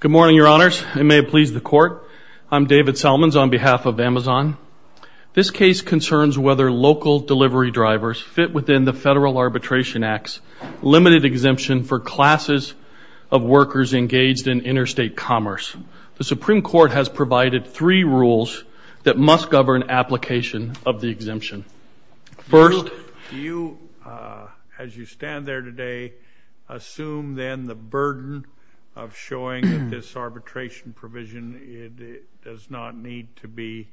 Good morning, Your Honors, and may it please the Court, I'm David Selmans on behalf of Amazon. This case concerns whether local delivery drivers fit within the Federal Arbitration Act's limited exemption for classes of workers engaged in interstate commerce. The Supreme Court has provided three rules that must govern application of the exemption. First, do you, as you stand there today, assume then the burden of showing that this arbitration provision does not need to be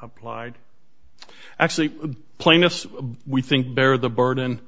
applied? Actually, plaintiffs, we think, bear the burden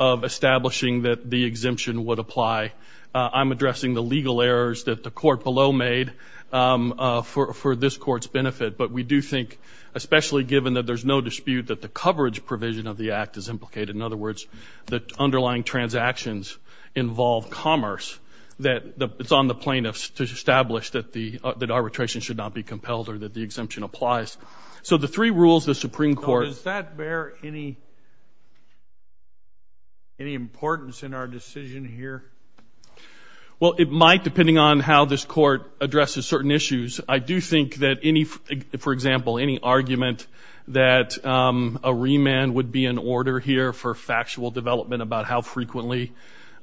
of establishing that the exemption would apply. I'm addressing the legal errors that the court below made for this court's benefit, but we do think, especially given that there's no dispute that the coverage provision of other words, the underlying transactions involve commerce, that it's on the plaintiffs to establish that the arbitration should not be compelled or that the exemption applies. So the three rules the Supreme Court... Does that bear any importance in our decision here? Well, it might, depending on how this court addresses certain issues. I do think that any, for example, any argument that a remand would be in order here for factual development about how frequently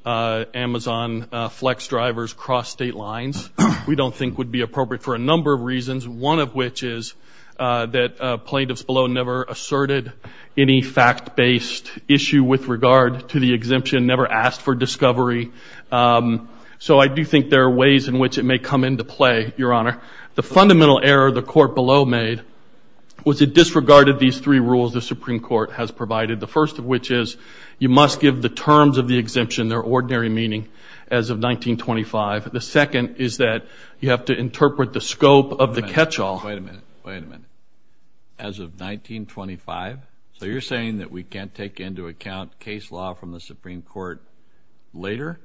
Amazon Flex drivers cross state lines, we don't think would be appropriate for a number of reasons, one of which is that plaintiffs below never asserted any fact-based issue with regard to the exemption, never asked for discovery. So I do think there are ways in which it may come into play, Your Honor. The fundamental error the court below made was it disregarded these three rules the Supreme Court has provided, the first of which is you must give the terms of the exemption their ordinary meaning as of 1925. The second is that you have to interpret the scope of the catch-all... Wait a minute, wait a minute. As of 1925? So you're saying that we can't take into account case law from the Supreme Court later?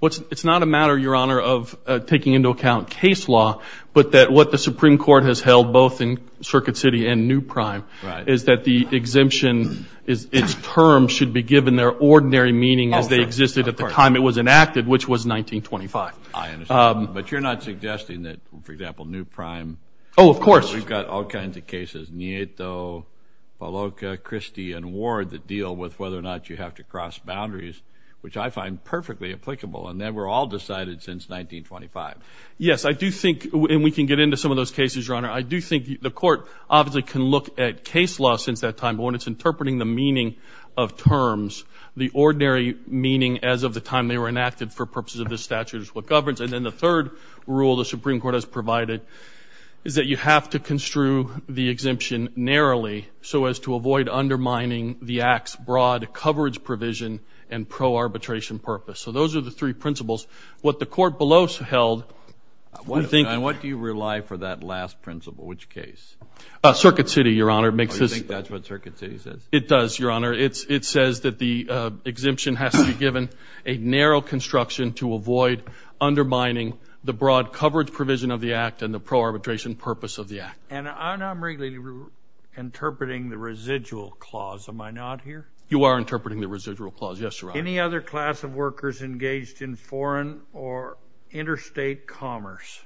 Well, it's not a matter, Your Honor, of taking into account case law, but that what the Supreme Court has held, both in Circuit City and New Prime, is that the exemption, its terms should be given their ordinary meaning as they existed at the time it was enacted, which was 1925. But you're not suggesting that, for example, New Prime... Oh, of course. We've got all kinds of cases, Nieto, Paloca, Christie, and Ward that deal with whether or not you have to cross boundaries, which I find perfectly applicable, and that were all decided since 1925. Yes, I do think, and we can get into some of those cases, Your Honor, I do think the court obviously can look at case law since that time, but when it's interpreting the meaning of terms, the ordinary meaning as of the time they were enacted for purposes of this statute is what governs. And then the third rule the Supreme Court has provided is that you have to construe the exemption narrowly so as to avoid undermining the Act's broad coverage provision and pro-arbitration purpose. So those are the three principles. What the court below held... And what do you rely for that last principle, which case? Circuit City, Your Honor, makes this... You think that's what Circuit City says? It does, Your Honor. It says that the exemption has to be given a narrow construction to avoid undermining the broad coverage provision of the Act and the pro-arbitration purpose of the Act. And I'm really interpreting the residual clause, am I not here? You are engaged in foreign or interstate commerce.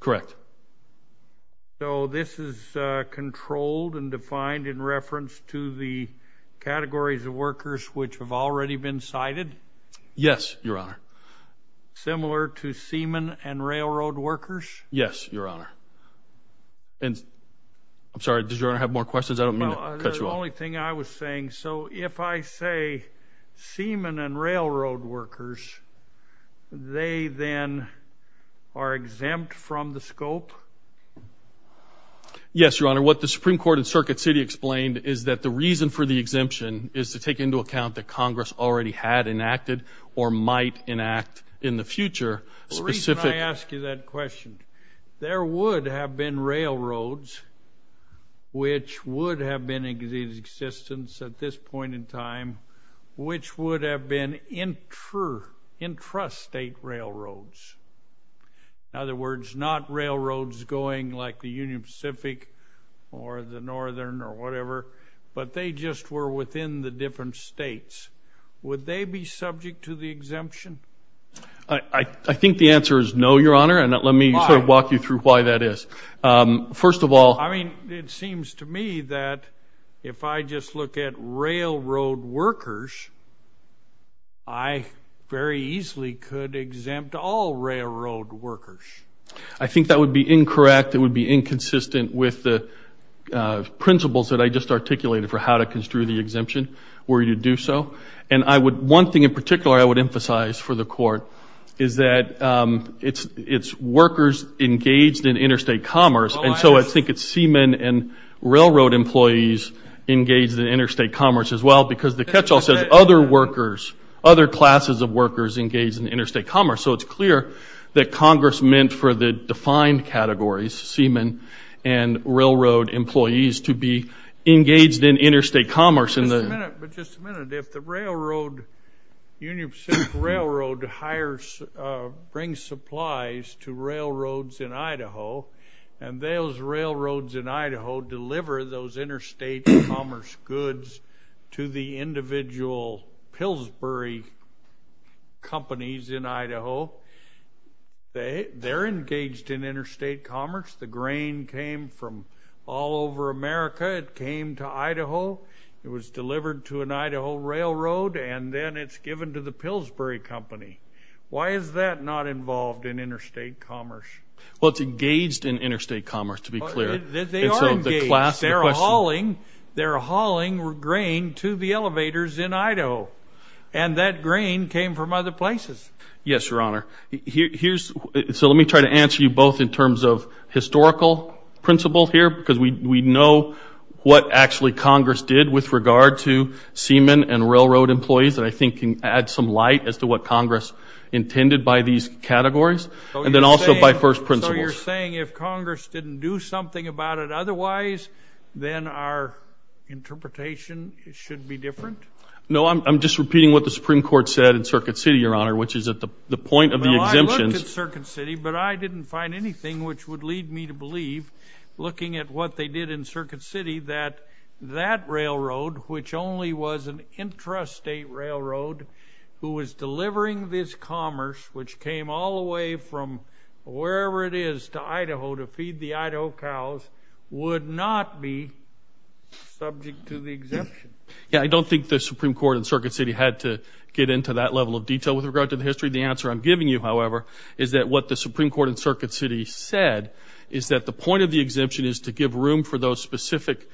Correct. So this is controlled and defined in reference to the categories of workers which have already been cited? Yes, Your Honor. Similar to seamen and railroad workers? Yes, Your Honor. And... I'm sorry, does Your Honor have more questions? I don't mean to cut you off. The only thing I was saying, so if I say seamen and railroad workers, they then are exempt from the scope? Yes, Your Honor. What the Supreme Court and Circuit City explained is that the reason for the exemption is to take into account that Congress already had enacted or might enact in the future specific... The reason I ask you that is existence at this point in time, which would have been intrastate railroads. In other words, not railroads going like the Union Pacific or the Northern or whatever, but they just were within the different states. Would they be subject to the exemption? I think the answer is no, Your Honor, and let me walk you through why that is. First of all... I mean, it seems to me that if I just look at railroad workers, I very easily could exempt all railroad workers. I think that would be incorrect. It would be inconsistent with the principles that I just articulated for how to construe the exemption where you do so, and I would... One thing in particular I would emphasize for the court is that it's workers engaged in interstate commerce, and so I think it's seamen and railroad employees engaged in interstate commerce as well, because the catch-all says other workers, other classes of workers engaged in interstate commerce, so it's clear that Congress meant for the defined categories, seamen and railroad employees, to be engaged in interstate commerce. But just a minute, if the railroad, Union Pacific Railroad, brings supplies to railroads in Idaho, and those railroads in Idaho deliver those interstate commerce goods to the individual Pillsbury companies in Idaho, they're engaged in interstate commerce. The grain came from all over America. It came to Idaho. It was delivered to an Idaho railroad, and then it's given to Pillsbury company. Why is that not involved in interstate commerce? Well, it's engaged in interstate commerce, to be clear. They are engaged. They're hauling grain to the elevators in Idaho, and that grain came from other places. Yes, Your Honor. Here's... So let me try to answer you both in terms of historical principle here, because we know what actually Congress did with regard to seamen and railroad employees that I think can add some light as to what Congress intended by these categories, and then also by first principles. So you're saying if Congress didn't do something about it otherwise, then our interpretation should be different? No, I'm just repeating what the Supreme Court said in Circuit City, Your Honor, which is at the point of the exemptions... Well, I looked at Circuit City, but I didn't find anything which would lead me to believe, looking at what they did in Circuit City, that that railroad, which only was an intrastate railroad, who was delivering this commerce, which came all the way from wherever it is to Idaho to feed the Idaho cows, would not be subject to the exemption. Yeah, I don't think the Supreme Court in Circuit City had to get into that level of detail with regard to the history. The answer I'm giving you, however, is that what the Supreme Court in Circuit City said is that the point of the exemption is to give room for those specific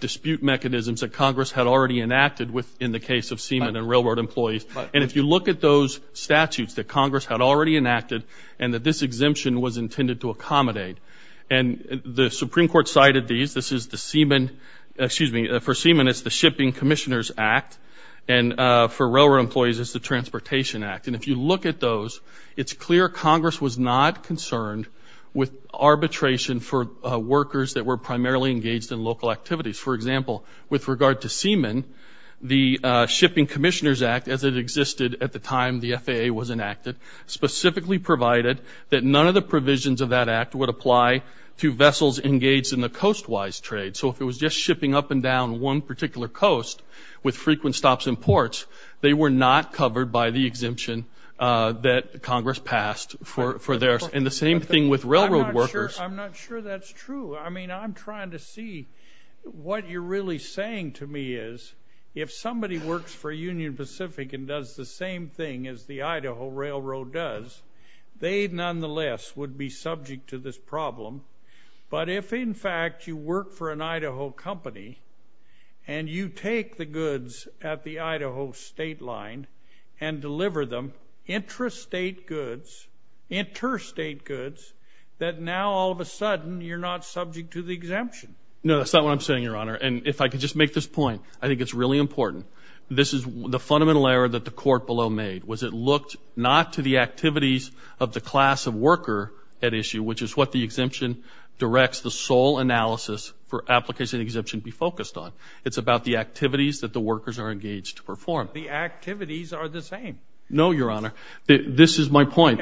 dispute mechanisms that Congress had already enacted within the case of seamen and railroad employees. And if you look at those statutes that Congress had already enacted, and that this exemption was intended to accommodate, and the Supreme Court cited these, this is the seamen, excuse me, for seamen it's the Shipping Commissioners Act, and for railroad employees it's the Transportation Act. And if you look at those, it's clear Congress was not concerned with arbitration for workers that were primarily engaged in local activities. For example, with regard to seamen, the Shipping Commissioners Act, as it existed at the time the FAA was enacted, specifically provided that none of the provisions of that act would apply to vessels engaged in the coastwise trade. So if it was just shipping up and down one particular coast with frequent stops and ports, they were not covered by the exemption that the Supreme Court had enacted. Now, I'm not sure that's true. I mean, I'm trying to see what you're really saying to me is, if somebody works for Union Pacific and does the same thing as the Idaho Railroad does, they nonetheless would be subject to this problem. But if in fact you work for an Idaho company, and you take the goods at the Idaho state line and deliver them, interstate goods, interstate goods, that's what you're saying, is that you're not going to get any more money for that. No, that's not what I'm saying, Your Honor. And if I could just make this point, I think it's really important. This is the fundamental error that the Court below made, was it looked not to the activities of the class of worker at issue, which is what the exemption directs the sole analysis for application and exemption to be focused on. It's about the activities that the workers are engaged to perform. No, Your Honor. This is my point.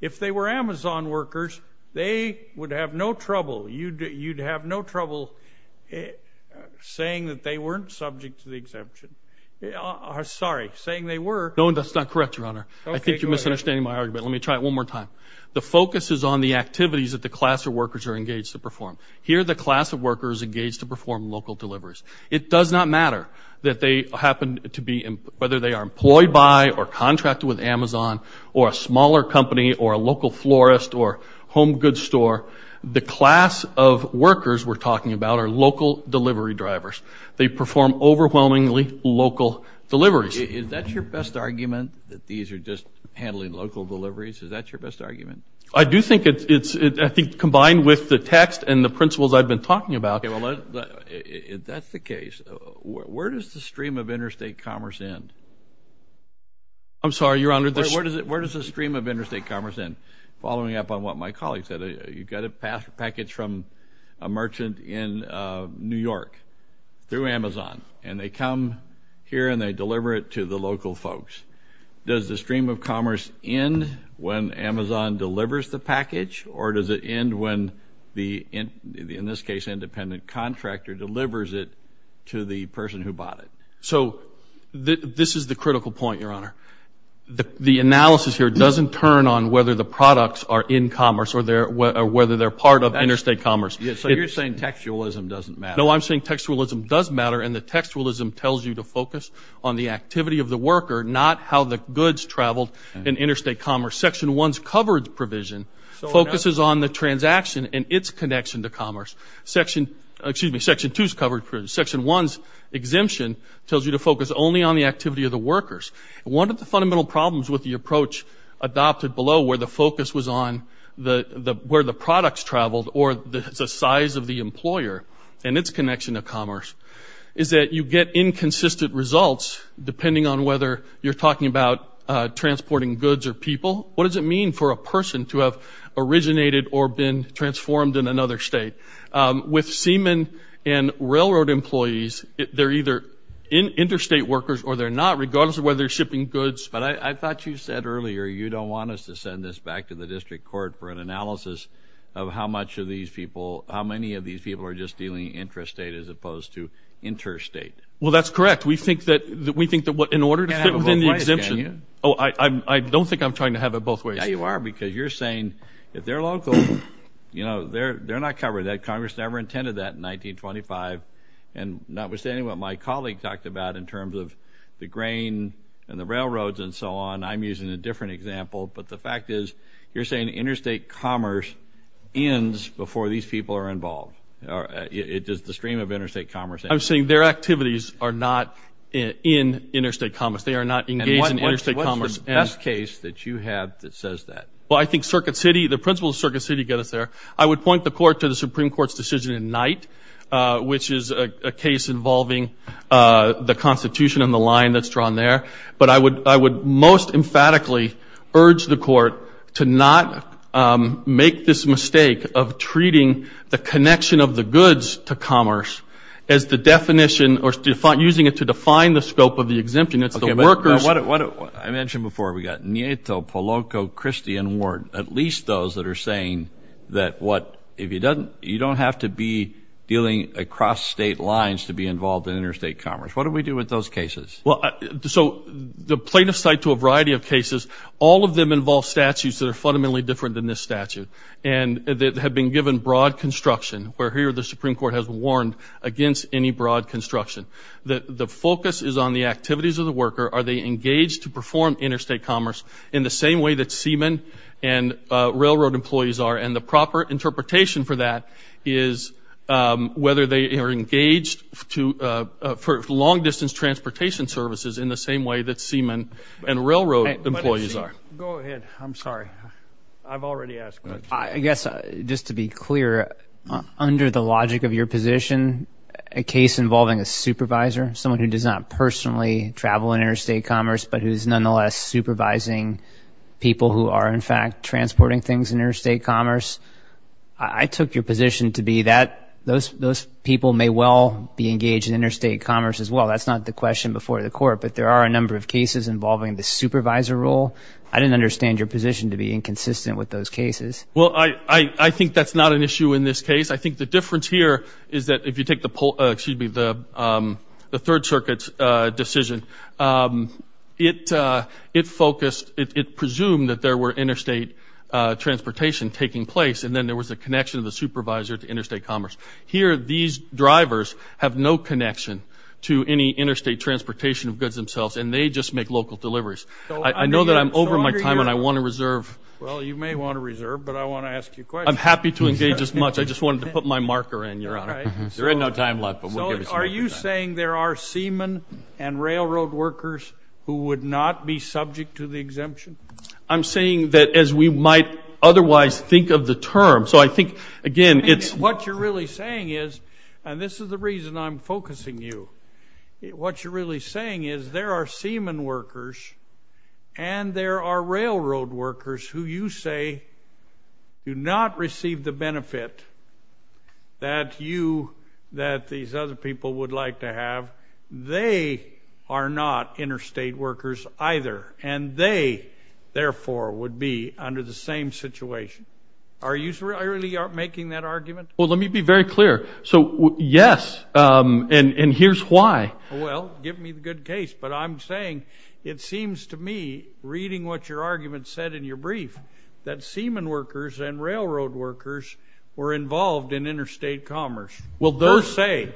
If they were Amazon workers, they would have no trouble. You'd have no trouble saying that they weren't subject to the exemption. Sorry, saying they were. No, that's not correct, Your Honor. I think you're misunderstanding my argument. Let me try it one more time. The focus is on the activities that the class of workers are engaged to perform. Here, the class of workers engaged to perform local deliveries. It does not matter that they happen to be, whether they are employed by or contracted with Amazon or a smaller company or a local florist or home goods store. The class of workers we're talking about are local delivery drivers. They perform overwhelmingly local deliveries. Is that your best argument, that these are just handling local deliveries? Is that your best argument? I do think it's, I think, combined with the text and the principles I've been talking about. Okay, well, that's the case. Where does the stream of interstate commerce end? I'm sorry, Your Honor. Where does the stream of interstate commerce end? Following up on what my colleague said. You've got a package from a merchant in New York through Amazon, and they come here and they deliver it to the local folks. Does the stream of commerce end when Amazon delivers the package, or does it end when the, in this case, independent contractor delivers it to the person who bought it? So, this is the critical point, Your Honor. The analysis here doesn't turn on whether the products are in commerce or whether they're part of interstate commerce. So you're saying textualism doesn't matter? No, I'm saying textualism does matter, and the textualism tells you to focus on the activity of the worker, not how the goods traveled in interstate commerce. Section 1's coverage provision focuses on the transaction and its connection to commerce. Section, excuse me, Section 2's coverage provision. Section 1's exemption tells you to focus only on the activity of the workers. One of the fundamental problems with the approach adopted below, where the focus was on where the products traveled or the size of the employer and its connection to commerce, is that you get inconsistent results depending on whether you're talking about transporting goods or people. What does it mean for a person to have originated or been transformed in another state? With seamen and railroad employees, they're either interstate workers or they're not, regardless of whether they're shipping goods. But I thought you said earlier you don't want us to send this back to the district court for an analysis of how much of these people, how many of these people are just dealing intrastate as opposed to interstate. Well, that's correct. We think that in order to fit within the exemption. You can't have it both ways, can you? Oh, I don't think I'm trying to have it both ways. Yeah, you are, because you're saying if they're local, you know, they're not covered. Congress never intended that in 1925. And notwithstanding what my colleague talked about in terms of the grain and the railroads and so on, I'm using a different example. But the fact is, you're saying interstate commerce ends before these people are involved. Does the stream of interstate commerce end? I'm saying their activities are not in interstate commerce. They are not engaged in interstate commerce. What's the best case that you have that says that? Well, I think Circuit City, the principles of Circuit City get us there. I would point the court to the Supreme Court's decision at night, which is a case involving the Constitution and the line that's drawn there. But I would most emphatically urge the court to not make this mistake of treating the connection of the goods to commerce as the definition or using it to define the scope of the exemption. Okay, but what I mentioned before, we've got Nieto, Polanco, Christie, and Ward, at least those that are saying that what you don't have to be dealing across state lines to be involved in interstate commerce. What do we do with those cases? Well, so the plaintiffs cite to a variety of cases. All of them involve statutes that are fundamentally different than this statute. And they have been given broad construction, where here the Supreme Court has warned against any broad construction. The focus is on the activities of the worker. Are they engaged to perform interstate commerce in the same way that seamen and railroad employees are? And the proper interpretation for that is whether they are engaged for long-distance transportation services in the same way that seamen and railroad employees are. Go ahead. I'm sorry. I've already asked. I guess just to be clear, under the logic of your position, a case involving a supervisor, someone who does not personally travel in interstate commerce, but who is nonetheless supervising people who are, in fact, transporting things in interstate commerce, I took your position to be that those people may well be engaged in interstate commerce as well. That's not the question before the court. But there are a number of cases involving the supervisor role. I didn't understand your position to be inconsistent with those cases. Well, I think that's not an issue in this case. I think the difference here is that if you take the third circuit's decision, it focused, it presumed that there were interstate transportation taking place, and then there was a connection of the supervisor to interstate commerce. Here, these drivers have no connection to any interstate transportation of goods themselves, and they just make local deliveries. I know that I'm over my time, and I want to reserve. Well, you may want to reserve, but I want to ask you a question. I'm happy to engage as much. I just wanted to put my marker in, Your Honor. There is no time left, but we'll give you some more time. So are you saying there are seamen and railroad workers who would not be subject to the exemption? I'm saying that as we might otherwise think of the term. So I think, again, it's what you're really saying is, and this is the reason I'm focusing you, what you're really saying is there are seamen workers and there are railroad workers who you say do not receive the benefit that you, that these other people would like to have. They are not interstate workers either, and they, therefore, would be under the same situation. Are you really making that argument? Well, let me be very clear. So, yes, and here's why. Well, give me the good case. But I'm saying it seems to me, reading what your argument said in your brief, that seamen workers and railroad workers were involved in interstate commerce. Will those say?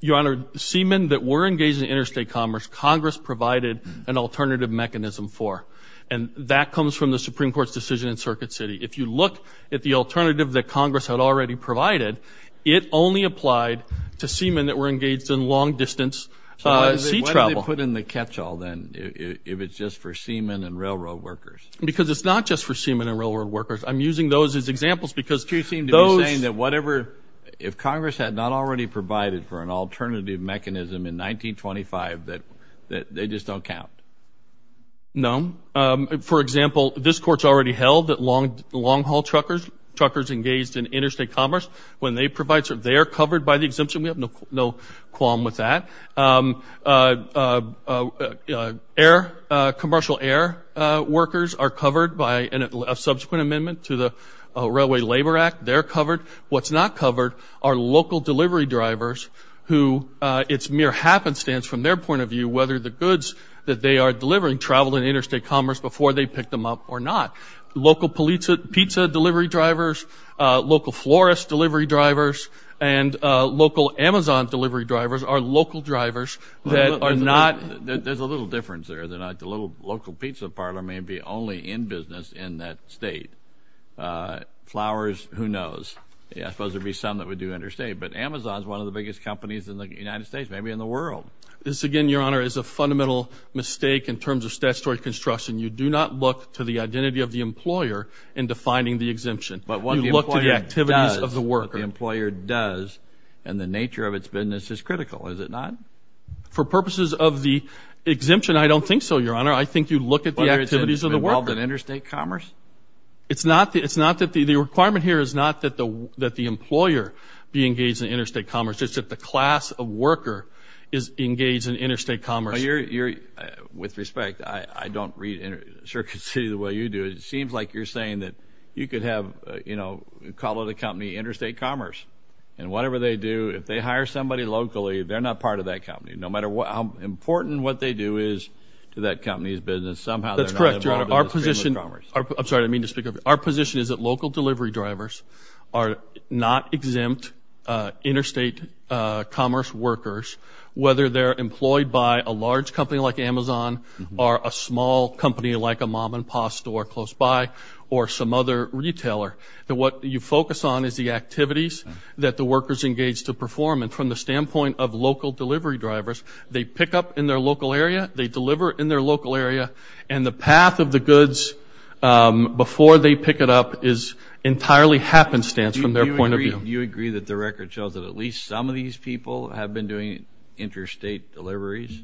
Your Honor, seamen that were engaged in interstate commerce, Congress provided an alternative mechanism for, and that comes from the Supreme Court's decision in Circuit City. If you look at the alternative that Congress had already provided, it only applied to seamen that were engaged in long-distance sea travel. So why did they put in the catch-all, then, if it's just for seamen and railroad workers? Because it's not just for seamen and railroad workers. I'm using those as examples because those. So you seem to be saying that whatever, if Congress had not already provided for an alternative mechanism in 1925, that they just don't count? No. For example, this Court's already held that long-haul truckers engaged in interstate commerce, when they provide, they are covered by the exemption. We have no qualm with that. Air, commercial air workers are covered by a subsequent amendment to the Railway Labor Act. They're covered. What's not covered are local delivery drivers who, it's mere happenstance from their point of view, whether the goods that they are delivering travel in interstate commerce before they pick them up or not. Local pizza delivery drivers, local florist delivery drivers, and local Amazon delivery drivers are local drivers that are not. There's a little difference there. The local pizza parlor may be only in business in that state. Flowers, who knows? I suppose there'd be some that would do interstate. But Amazon's one of the biggest companies in the United States, maybe in the world. This, again, Your Honor, is a fundamental mistake in terms of statutory construction. You do not look to the identity of the employer in defining the exemption. You look to the activities of the worker. But what the employer does and the nature of its business is critical, is it not? For purposes of the exemption, I don't think so, Your Honor. I think you look at the activities of the worker. Whether it's involved in interstate commerce? It's not that the requirement here is not that the employer be engaged in interstate commerce. It's just that the class of worker is engaged in interstate commerce. With respect, I don't read Circuit City the way you do it. It seems like you're saying that you could have, you know, call it a company interstate commerce. And whatever they do, if they hire somebody locally, they're not part of that company. No matter how important what they do is to that company's business, somehow they're not involved in interstate commerce. That's correct, Your Honor. I'm sorry, I didn't mean to speak up. Our position is that local delivery drivers are not exempt interstate commerce workers, whether they're employed by a large company like Amazon or a small company like a mom-and-pop store close by or some other retailer. What you focus on is the activities that the workers engage to perform. And from the standpoint of local delivery drivers, they pick up in their local area, they deliver in their local area, and the path of the goods before they pick it up is entirely happenstance from their point of view. Do you agree that the record shows that at least some of these people have been doing interstate deliveries?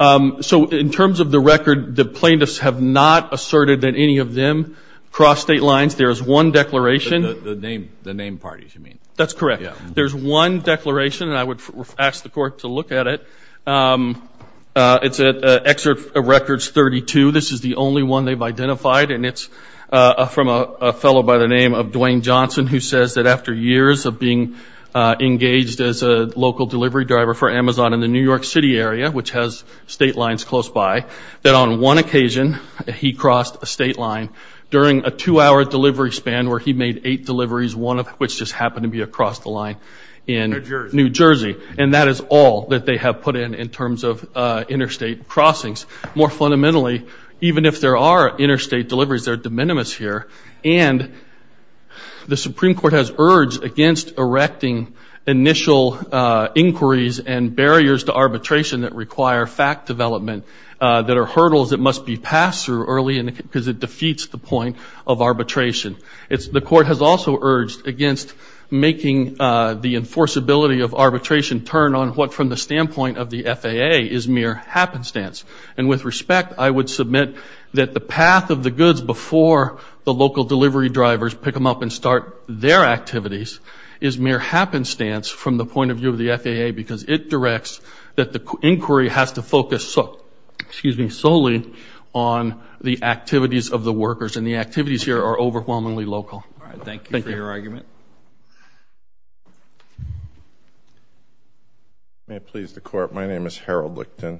So in terms of the record, the plaintiffs have not asserted that any of them cross state lines. There is one declaration. The name parties, you mean? That's correct. There's one declaration, and I would ask the Court to look at it. It's at Excerpt Records 32. This is the only one they've identified, and it's from a fellow by the name of Dwayne Johnson who says that after years of being engaged as a local delivery driver for Amazon in the New York City area, which has state lines close by, that on one occasion he crossed a state line during a two-hour delivery span where he made eight deliveries, one of which just happened to be across the line in New Jersey. And that is all that they have put in in terms of interstate crossings. More fundamentally, even if there are interstate deliveries, they're de minimis here, and the Supreme Court has urged against erecting initial inquiries and barriers to arbitration that require fact development that are hurdles that must be passed through early because it defeats the point of arbitration. The Court has also urged against making the enforceability of arbitration turn on what, from the standpoint of the FAA, is mere happenstance. And with respect, I would submit that the path of the goods before the local delivery drivers pick them up and start their activities is mere happenstance from the point of view of the FAA because it directs that the inquiry has to focus solely on the activities of the workers, and the activities here are overwhelmingly local. Thank you for your argument. May it please the Court, my name is Harold Licton.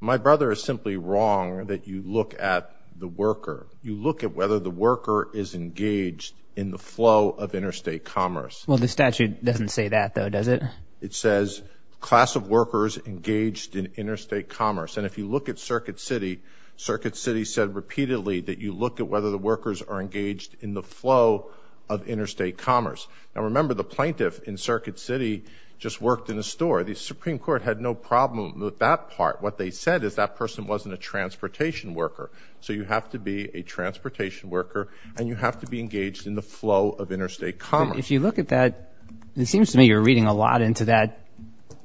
My brother is simply wrong that you look at the worker. You look at whether the worker is engaged in the flow of interstate commerce. Well, the statute doesn't say that, though, does it? It says class of workers engaged in interstate commerce. And if you look at Circuit City, Circuit City said repeatedly that you look at whether the workers are engaged in the flow of interstate commerce. Now, remember, the plaintiff in Circuit City just worked in a store. The Supreme Court had no problem with that part. What they said is that person wasn't a transportation worker. So you have to be a transportation worker, and you have to be engaged in the flow of interstate commerce. If you look at that, it seems to me you're reading a lot into that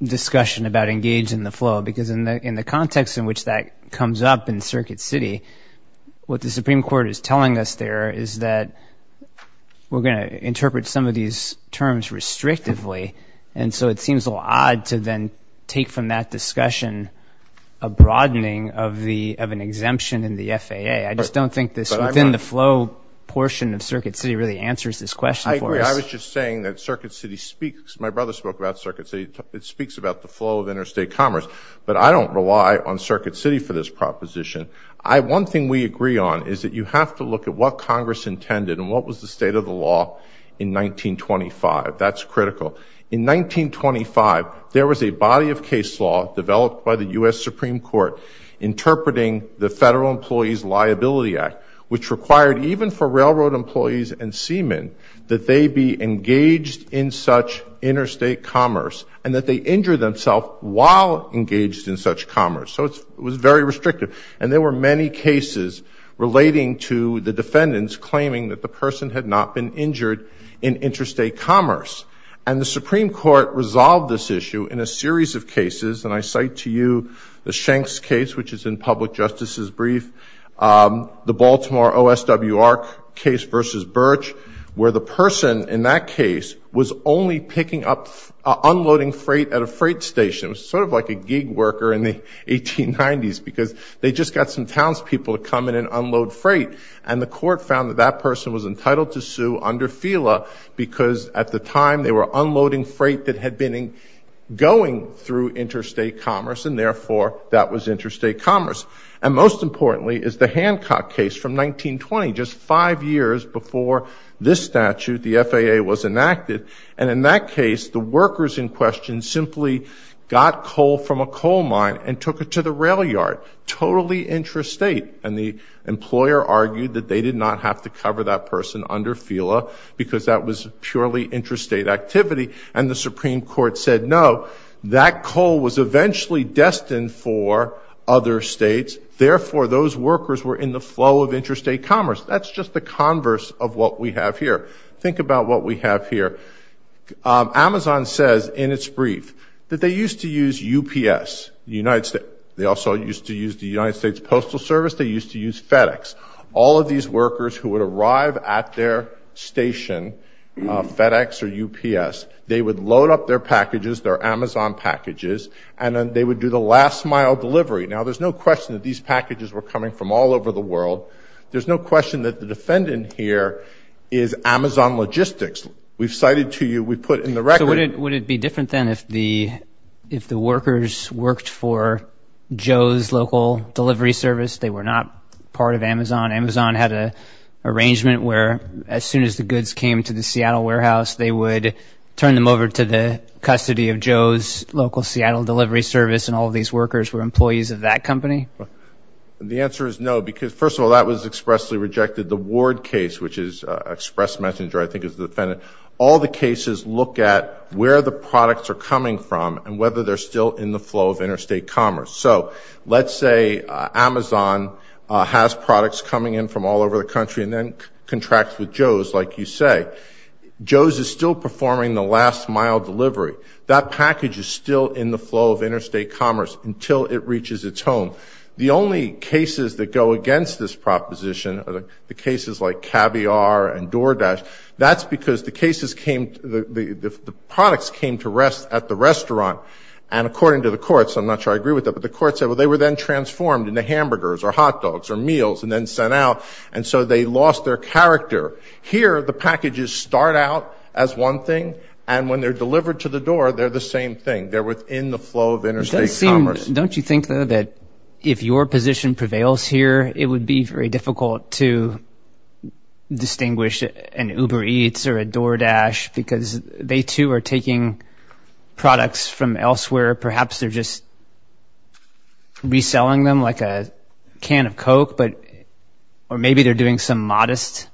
discussion about engaged in the flow because in the context in which that comes up in Circuit City, what the Supreme Court is telling us there is that we're going to interpret some of these terms restrictively. And so it seems a little odd to then take from that discussion a broadening of an exemption in the FAA. I just don't think this within the flow portion of Circuit City really answers this question for us. I agree. I was just saying that Circuit City speaks. My brother spoke about Circuit City. It speaks about the flow of interstate commerce. But I don't rely on Circuit City for this proposition. One thing we agree on is that you have to look at what Congress intended and what was the state of the law in 1925. That's critical. In 1925, there was a body of case law developed by the U.S. Supreme Court interpreting the Federal Employees Liability Act, which required even for railroad employees and seamen that they be engaged in such interstate commerce and that they injure themselves while engaged in such commerce. So it was very restrictive. And there were many cases relating to the defendants claiming that the person had not been injured in interstate commerce. And the Supreme Court resolved this issue in a series of cases, and I cite to you the Shanks case, which is in public justice's brief, the Baltimore OSWR case versus Birch, where the person in that case was only picking up unloading freight at a freight station. It was sort of like a gig worker in the 1890s because they just got some townspeople to come in and unload freight. And the court found that that person was entitled to sue under FELA because at the time they were unloading freight that had been going through interstate commerce, and therefore that was interstate commerce. And most importantly is the Hancock case from 1920, just five years before this statute, the FAA, was enacted. And in that case, the workers in question simply got coal from a coal mine and took it to the rail yard, totally intrastate. And the employer argued that they did not have to cover that person under FELA because that was purely interstate activity. And the Supreme Court said no, that coal was eventually destined for other states, therefore those workers were in the flow of interstate commerce. That's just the converse of what we have here. Think about what we have here. Amazon says in its brief that they used to use UPS, the United States. They also used to use the United States Postal Service. They used to use FedEx. All of these workers who would arrive at their station, FedEx or UPS, they would load up their packages, their Amazon packages, and then they would do the last mile delivery. Now, there's no question that these packages were coming from all over the world. There's no question that the defendant here is Amazon Logistics. We've cited to you, we put in the record. So would it be different then if the workers worked for Joe's local delivery service? They were not part of Amazon. Amazon had an arrangement where as soon as the goods came to the Seattle warehouse, they would turn them over to the custody of Joe's local Seattle delivery service, and all of these workers were employees of that company? The answer is no because, first of all, that was expressly rejected. The Ward case, which is express messenger, I think is the defendant. All the cases look at where the products are coming from and whether they're still in the flow of interstate commerce. So let's say Amazon has products coming in from all over the country and then contracts with Joe's, like you say. Joe's is still performing the last mile delivery. That package is still in the flow of interstate commerce until it reaches its home. The only cases that go against this proposition are the cases like Caviar and DoorDash. That's because the cases came, the products came to rest at the restaurant, and according to the courts, I'm not sure I agree with that, but the court said, well, they were then transformed into hamburgers or hot dogs or meals and then sent out, and so they lost their character. Here the packages start out as one thing, and when they're delivered to the door, they're the same thing. They're within the flow of interstate commerce. Don't you think, though, that if your position prevails here, it would be very difficult to distinguish an Uber Eats or a DoorDash because they, too, are taking products from elsewhere. Perhaps they're just reselling them like a can of Coke, or maybe they're doing some modest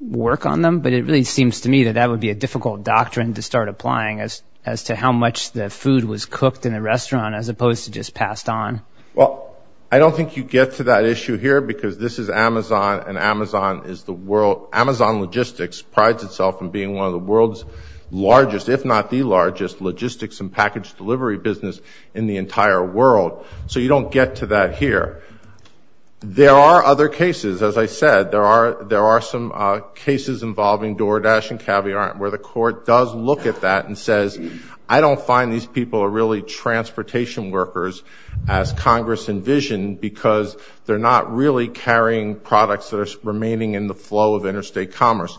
work on them, but it really seems to me that that would be a difficult doctrine to start applying as to how much the food was cooked in the restaurant as opposed to just passed on. Well, I don't think you get to that issue here because this is Amazon, and Amazon logistics prides itself on being one of the world's largest, if not the largest, logistics and package delivery business in the entire world, so you don't get to that here. There are other cases. As I said, there are some cases involving DoorDash and Caviar where the court does look at that and says, I don't find these people are really transportation workers as Congress envisioned because they're not really carrying products that are remaining in the flow of interstate commerce.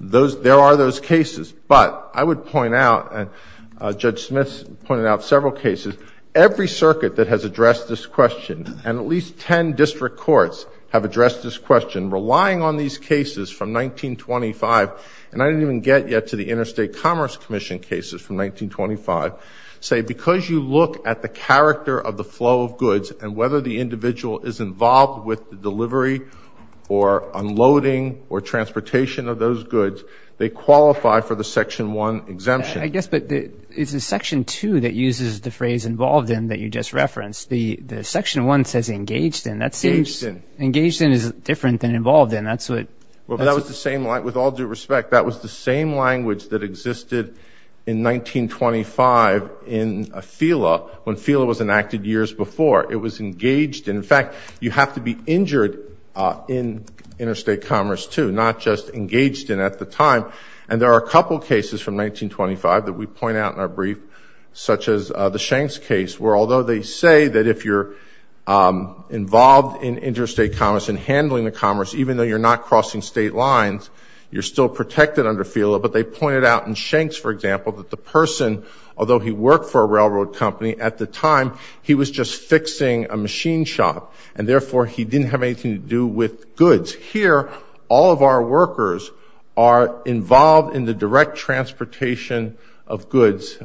There are those cases. But I would point out, and Judge Smith pointed out several cases, every circuit that has addressed this question, and at least 10 district courts have addressed this question, relying on these cases from 1925, and I didn't even get yet to the Interstate Commerce Commission cases from 1925, say because you look at the character of the flow of goods and whether the individual is involved with the delivery or unloading or transportation of those goods, they qualify for the Section 1 exemption. I guess it's the Section 2 that uses the phrase involved in that you just referenced. The Section 1 says engaged in. Engaged in. Engaged in is different than involved in. With all due respect, that was the same language that existed in 1925 in FILA when FILA was enacted years before. It was engaged in. In fact, you have to be injured in interstate commerce too, not just engaged in at the time. And there are a couple cases from 1925 that we point out in our brief, such as the Shanks case, where although they say that if you're involved in interstate commerce and handling the commerce, even though you're not crossing state lines, you're still protected under FILA, but they pointed out in Shanks, for example, that the person, although he worked for a railroad company at the time, he was just fixing a machine shop, and therefore he didn't have anything to do with goods. Here, all of our workers are involved in the direct transportation of goods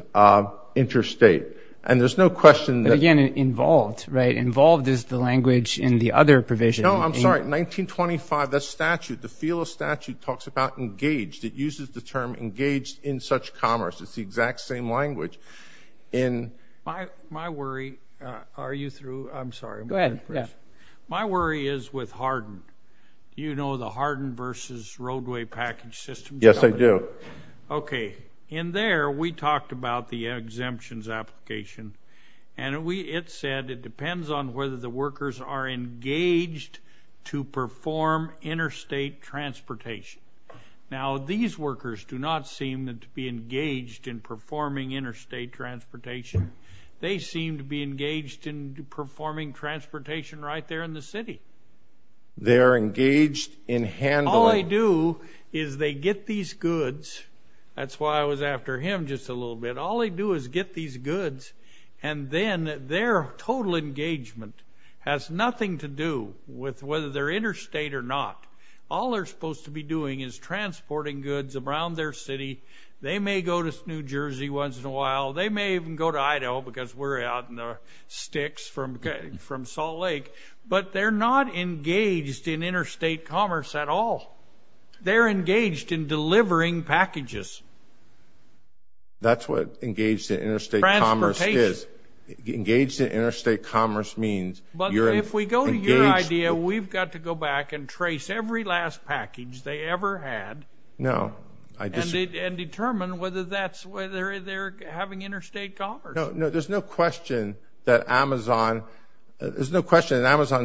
interstate. And there's no question that. But, again, involved, right? Involved is the language in the other provision. No, I'm sorry. 1925, the statute, the FILA statute talks about engaged. It uses the term engaged in such commerce. It's the exact same language. My worry, are you through? I'm sorry. Go ahead. My worry is with hardened. Do you know the hardened versus roadway package system? Yes, I do. Okay. In there, we talked about the exemptions application, and it said it depends on whether the workers are engaged to perform interstate transportation. Now, these workers do not seem to be engaged in performing interstate transportation. They seem to be engaged in performing transportation right there in the city. They're engaged in handling. All they do is they get these goods. That's why I was after him just a little bit. All they do is get these goods, and then their total engagement has nothing to do with whether they're interstate or not. All they're supposed to be doing is transporting goods around their city. They may go to New Jersey once in a while. They may even go to Idaho because we're out in the sticks from Salt Lake. But they're not engaged in interstate commerce at all. They're engaged in delivering packages. That's what engaged in interstate commerce is. Transportation. Engaged in interstate commerce means you're engaged. But if we go to your idea, we've got to go back and trace every last package they ever had. No. And determine whether that's whether they're having interstate commerce. No, there's no question that Amazon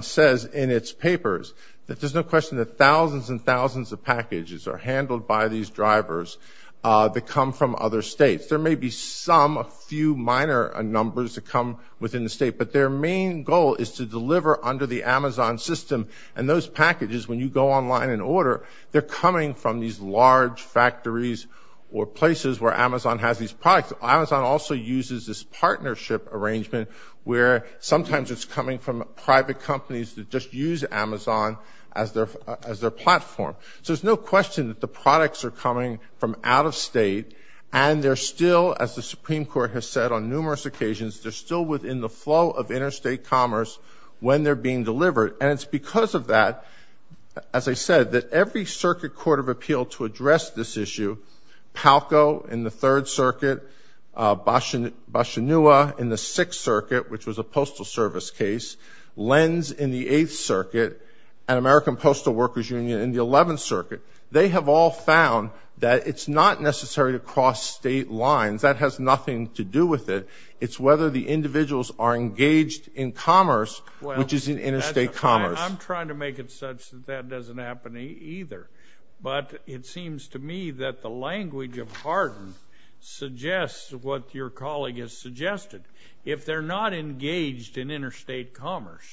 says in its papers that there's no question that thousands and thousands of packages are handled by these drivers that come from other states. There may be some, a few minor numbers that come within the state, but their main goal is to deliver under the Amazon system. And those packages, when you go online and order, they're coming from these large factories or places where Amazon has these products. Amazon also uses this partnership arrangement where sometimes it's coming from private companies that just use Amazon as their platform. So there's no question that the products are coming from out of state. And they're still, as the Supreme Court has said on numerous occasions, they're still within the flow of interstate commerce when they're being delivered. And it's because of that, as I said, that every circuit court of appeal to address this issue, Palco in the Third Circuit, Boshanua in the Sixth Circuit, which was a postal service case, Lenz in the Eighth Circuit, and American Postal Workers Union in the Eleventh Circuit, they have all found that it's not necessary to cross state lines. That has nothing to do with it. It's whether the individuals are engaged in commerce, which is in interstate commerce. I'm trying to make it such that that doesn't happen either. But it seems to me that the language of Hardin suggests what your colleague has suggested. If they're not engaged in interstate commerce,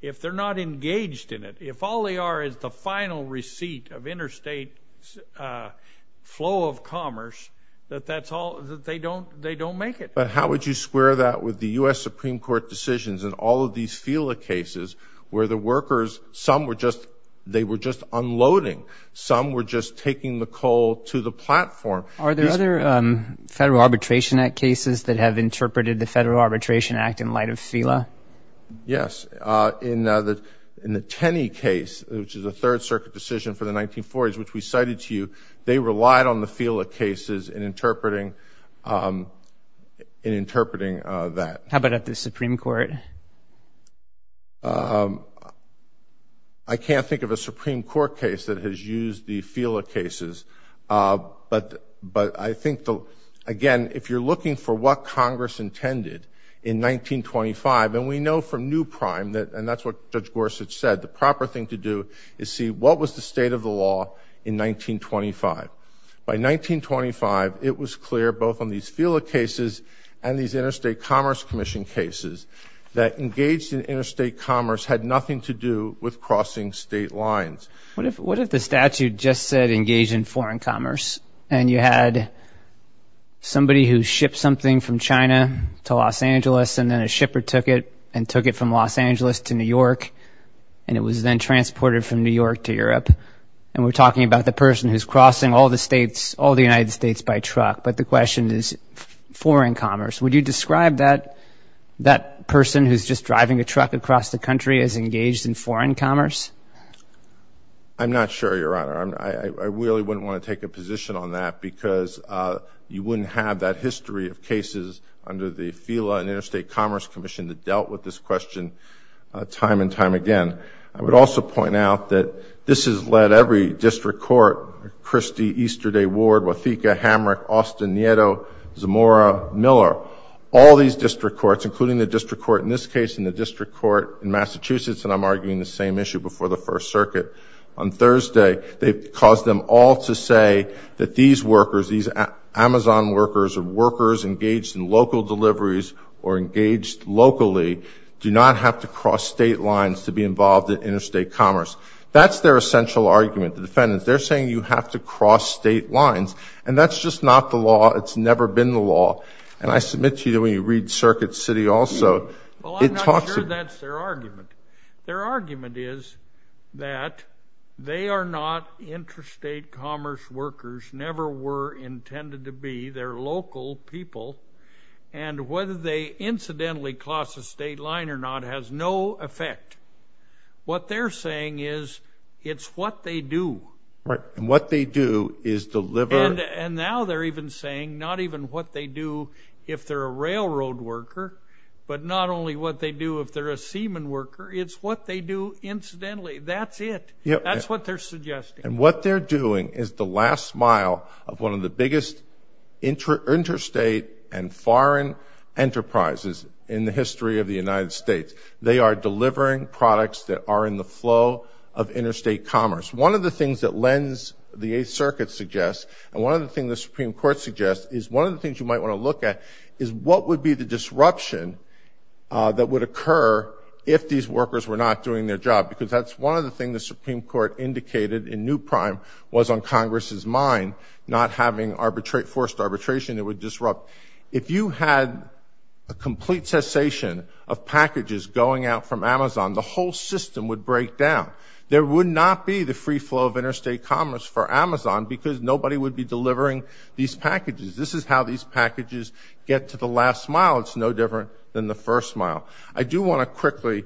if they're not engaged in it, if all they are is the final receipt of interstate flow of commerce, that they don't make it. But how would you square that with the U.S. Supreme Court decisions and all of these FILA cases where the workers, some were just unloading. Some were just taking the coal to the platform. Are there other Federal Arbitration Act cases that have interpreted the Federal Arbitration Act in light of FILA? Yes. In the Tenney case, which is a Third Circuit decision for the 1940s, which we cited to you, they relied on the FILA cases in interpreting that. How about at the Supreme Court? I can't think of a Supreme Court case that has used the FILA cases. But I think, again, if you're looking for what Congress intended in 1925, and we know from New Prime, and that's what Judge Gorsuch said, the proper thing to do is see what was the state of the law in 1925. By 1925, it was clear, both on these FILA cases and these Interstate Commerce Commission cases, that engaged in interstate commerce had nothing to do with crossing state lines. What if the statute just said engage in foreign commerce, and you had somebody who shipped something from China to Los Angeles, and then a shipper took it and took it from Los Angeles to New York, and it was then transported from New York to Europe, and we're talking about the person who's crossing all the United States by truck. But the question is foreign commerce. Would you describe that person who's just driving a truck across the country as engaged in foreign commerce? I'm not sure, Your Honor. I really wouldn't want to take a position on that, because you wouldn't have that history of cases under the FILA and Interstate Commerce Commission that dealt with this question time and time again. I would also point out that this has led every district court, Christie, Easterday, Ward, Wotheka, Hamrick, Austin, Nieto, Zamora, Miller, all these district courts, including the district court in this case and the district court in Massachusetts, and I'm arguing the same issue before the First Circuit. On Thursday, they caused them all to say that these workers, these Amazon workers or workers engaged in local deliveries or engaged locally, do not have to cross state lines to be involved in interstate commerce. That's their essential argument. The defendants, they're saying you have to cross state lines, and that's just not the law. It's never been the law, and I submit to you that when you read Circuit City also, it talks about it. Well, I'm not sure that's their argument. Their argument is that they are not interstate commerce workers, never were intended to be. They're local people, and whether they incidentally cross a state line or not has no effect. What they're saying is it's what they do. Right, and what they do is deliver. And now they're even saying not even what they do if they're a railroad worker, but not only what they do if they're a seaman worker. It's what they do incidentally. That's it. That's what they're suggesting. And what they're doing is the last mile of one of the biggest interstate and foreign enterprises in the history of the United States. They are delivering products that are in the flow of interstate commerce. One of the things that lends the Eighth Circuit suggests, and one of the things the Supreme Court suggests is one of the things you might want to look at is what would be the disruption that would occur if these workers were not doing their job, because that's one of the things the Supreme Court indicated in New Prime was on Congress's mind, not having forced arbitration that would disrupt. If you had a complete cessation of packages going out from Amazon, the whole system would break down. There would not be the free flow of interstate commerce for Amazon because nobody would be delivering these packages. This is how these packages get to the last mile. It's no different than the first mile. I do want to quickly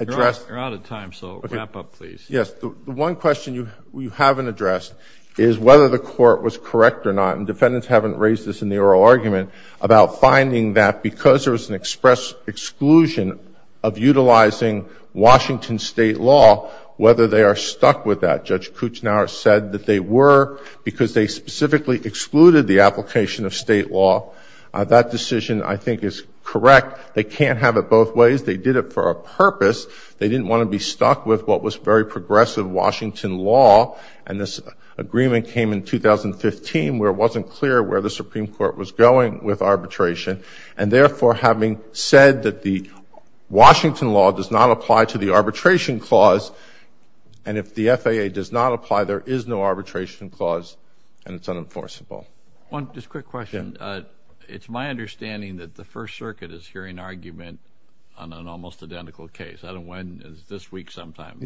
address. You're out of time, so wrap up, please. Yes. The one question you haven't addressed is whether the court was correct or not, and defendants haven't raised this in the oral argument, about finding that because there was an express exclusion of utilizing Washington state law, whether they are stuck with that. Judge Kouchner said that they were because they specifically excluded the application of state law. That decision, I think, is correct. They can't have it both ways. They did it for a purpose. They didn't want to be stuck with what was very progressive Washington law, and this agreement came in 2015 where it wasn't clear where the Supreme Court was going with arbitration, and therefore having said that the Washington law does not apply to the arbitration clause, and if the FAA does not apply, there is no arbitration clause, and it's unenforceable. Just a quick question. It's my understanding that the First Circuit is hearing argument on an almost identical case. I don't know when. It's this week sometime.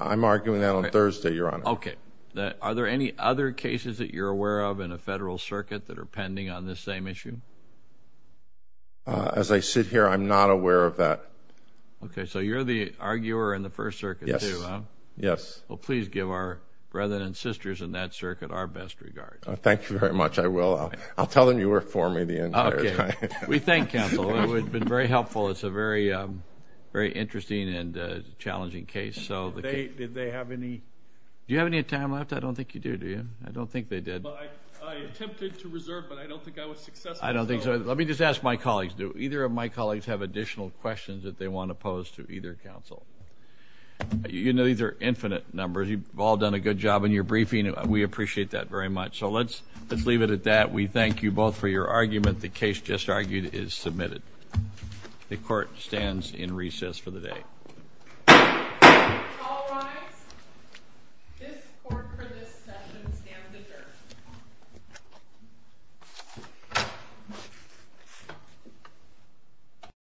I'm arguing that on Thursday, Your Honor. Okay. Are there any other cases that you're aware of in a federal circuit that are pending on this same issue? As I sit here, I'm not aware of that. Okay. So you're the arguer in the First Circuit too, huh? Yes. Well, please give our brethren and sisters in that circuit our best regards. Thank you very much. I will. I'll tell them you were for me the entire time. Okay. We thank counsel. It would have been very helpful. It's a very interesting and challenging case. Did they have any? Do you have any time left? I don't think you do, do you? I don't think they did. I attempted to reserve, but I don't think I was successful. I don't think so. Let me just ask my colleagues. Do either of my colleagues have additional questions that they want to pose to either counsel? You know these are infinite numbers. You've all done a good job in your briefing. We appreciate that very much. So let's leave it at that. We thank you both for your argument. The case just argued is submitted. The court stands in recess for the day. All rise. This court for this session stands adjourned.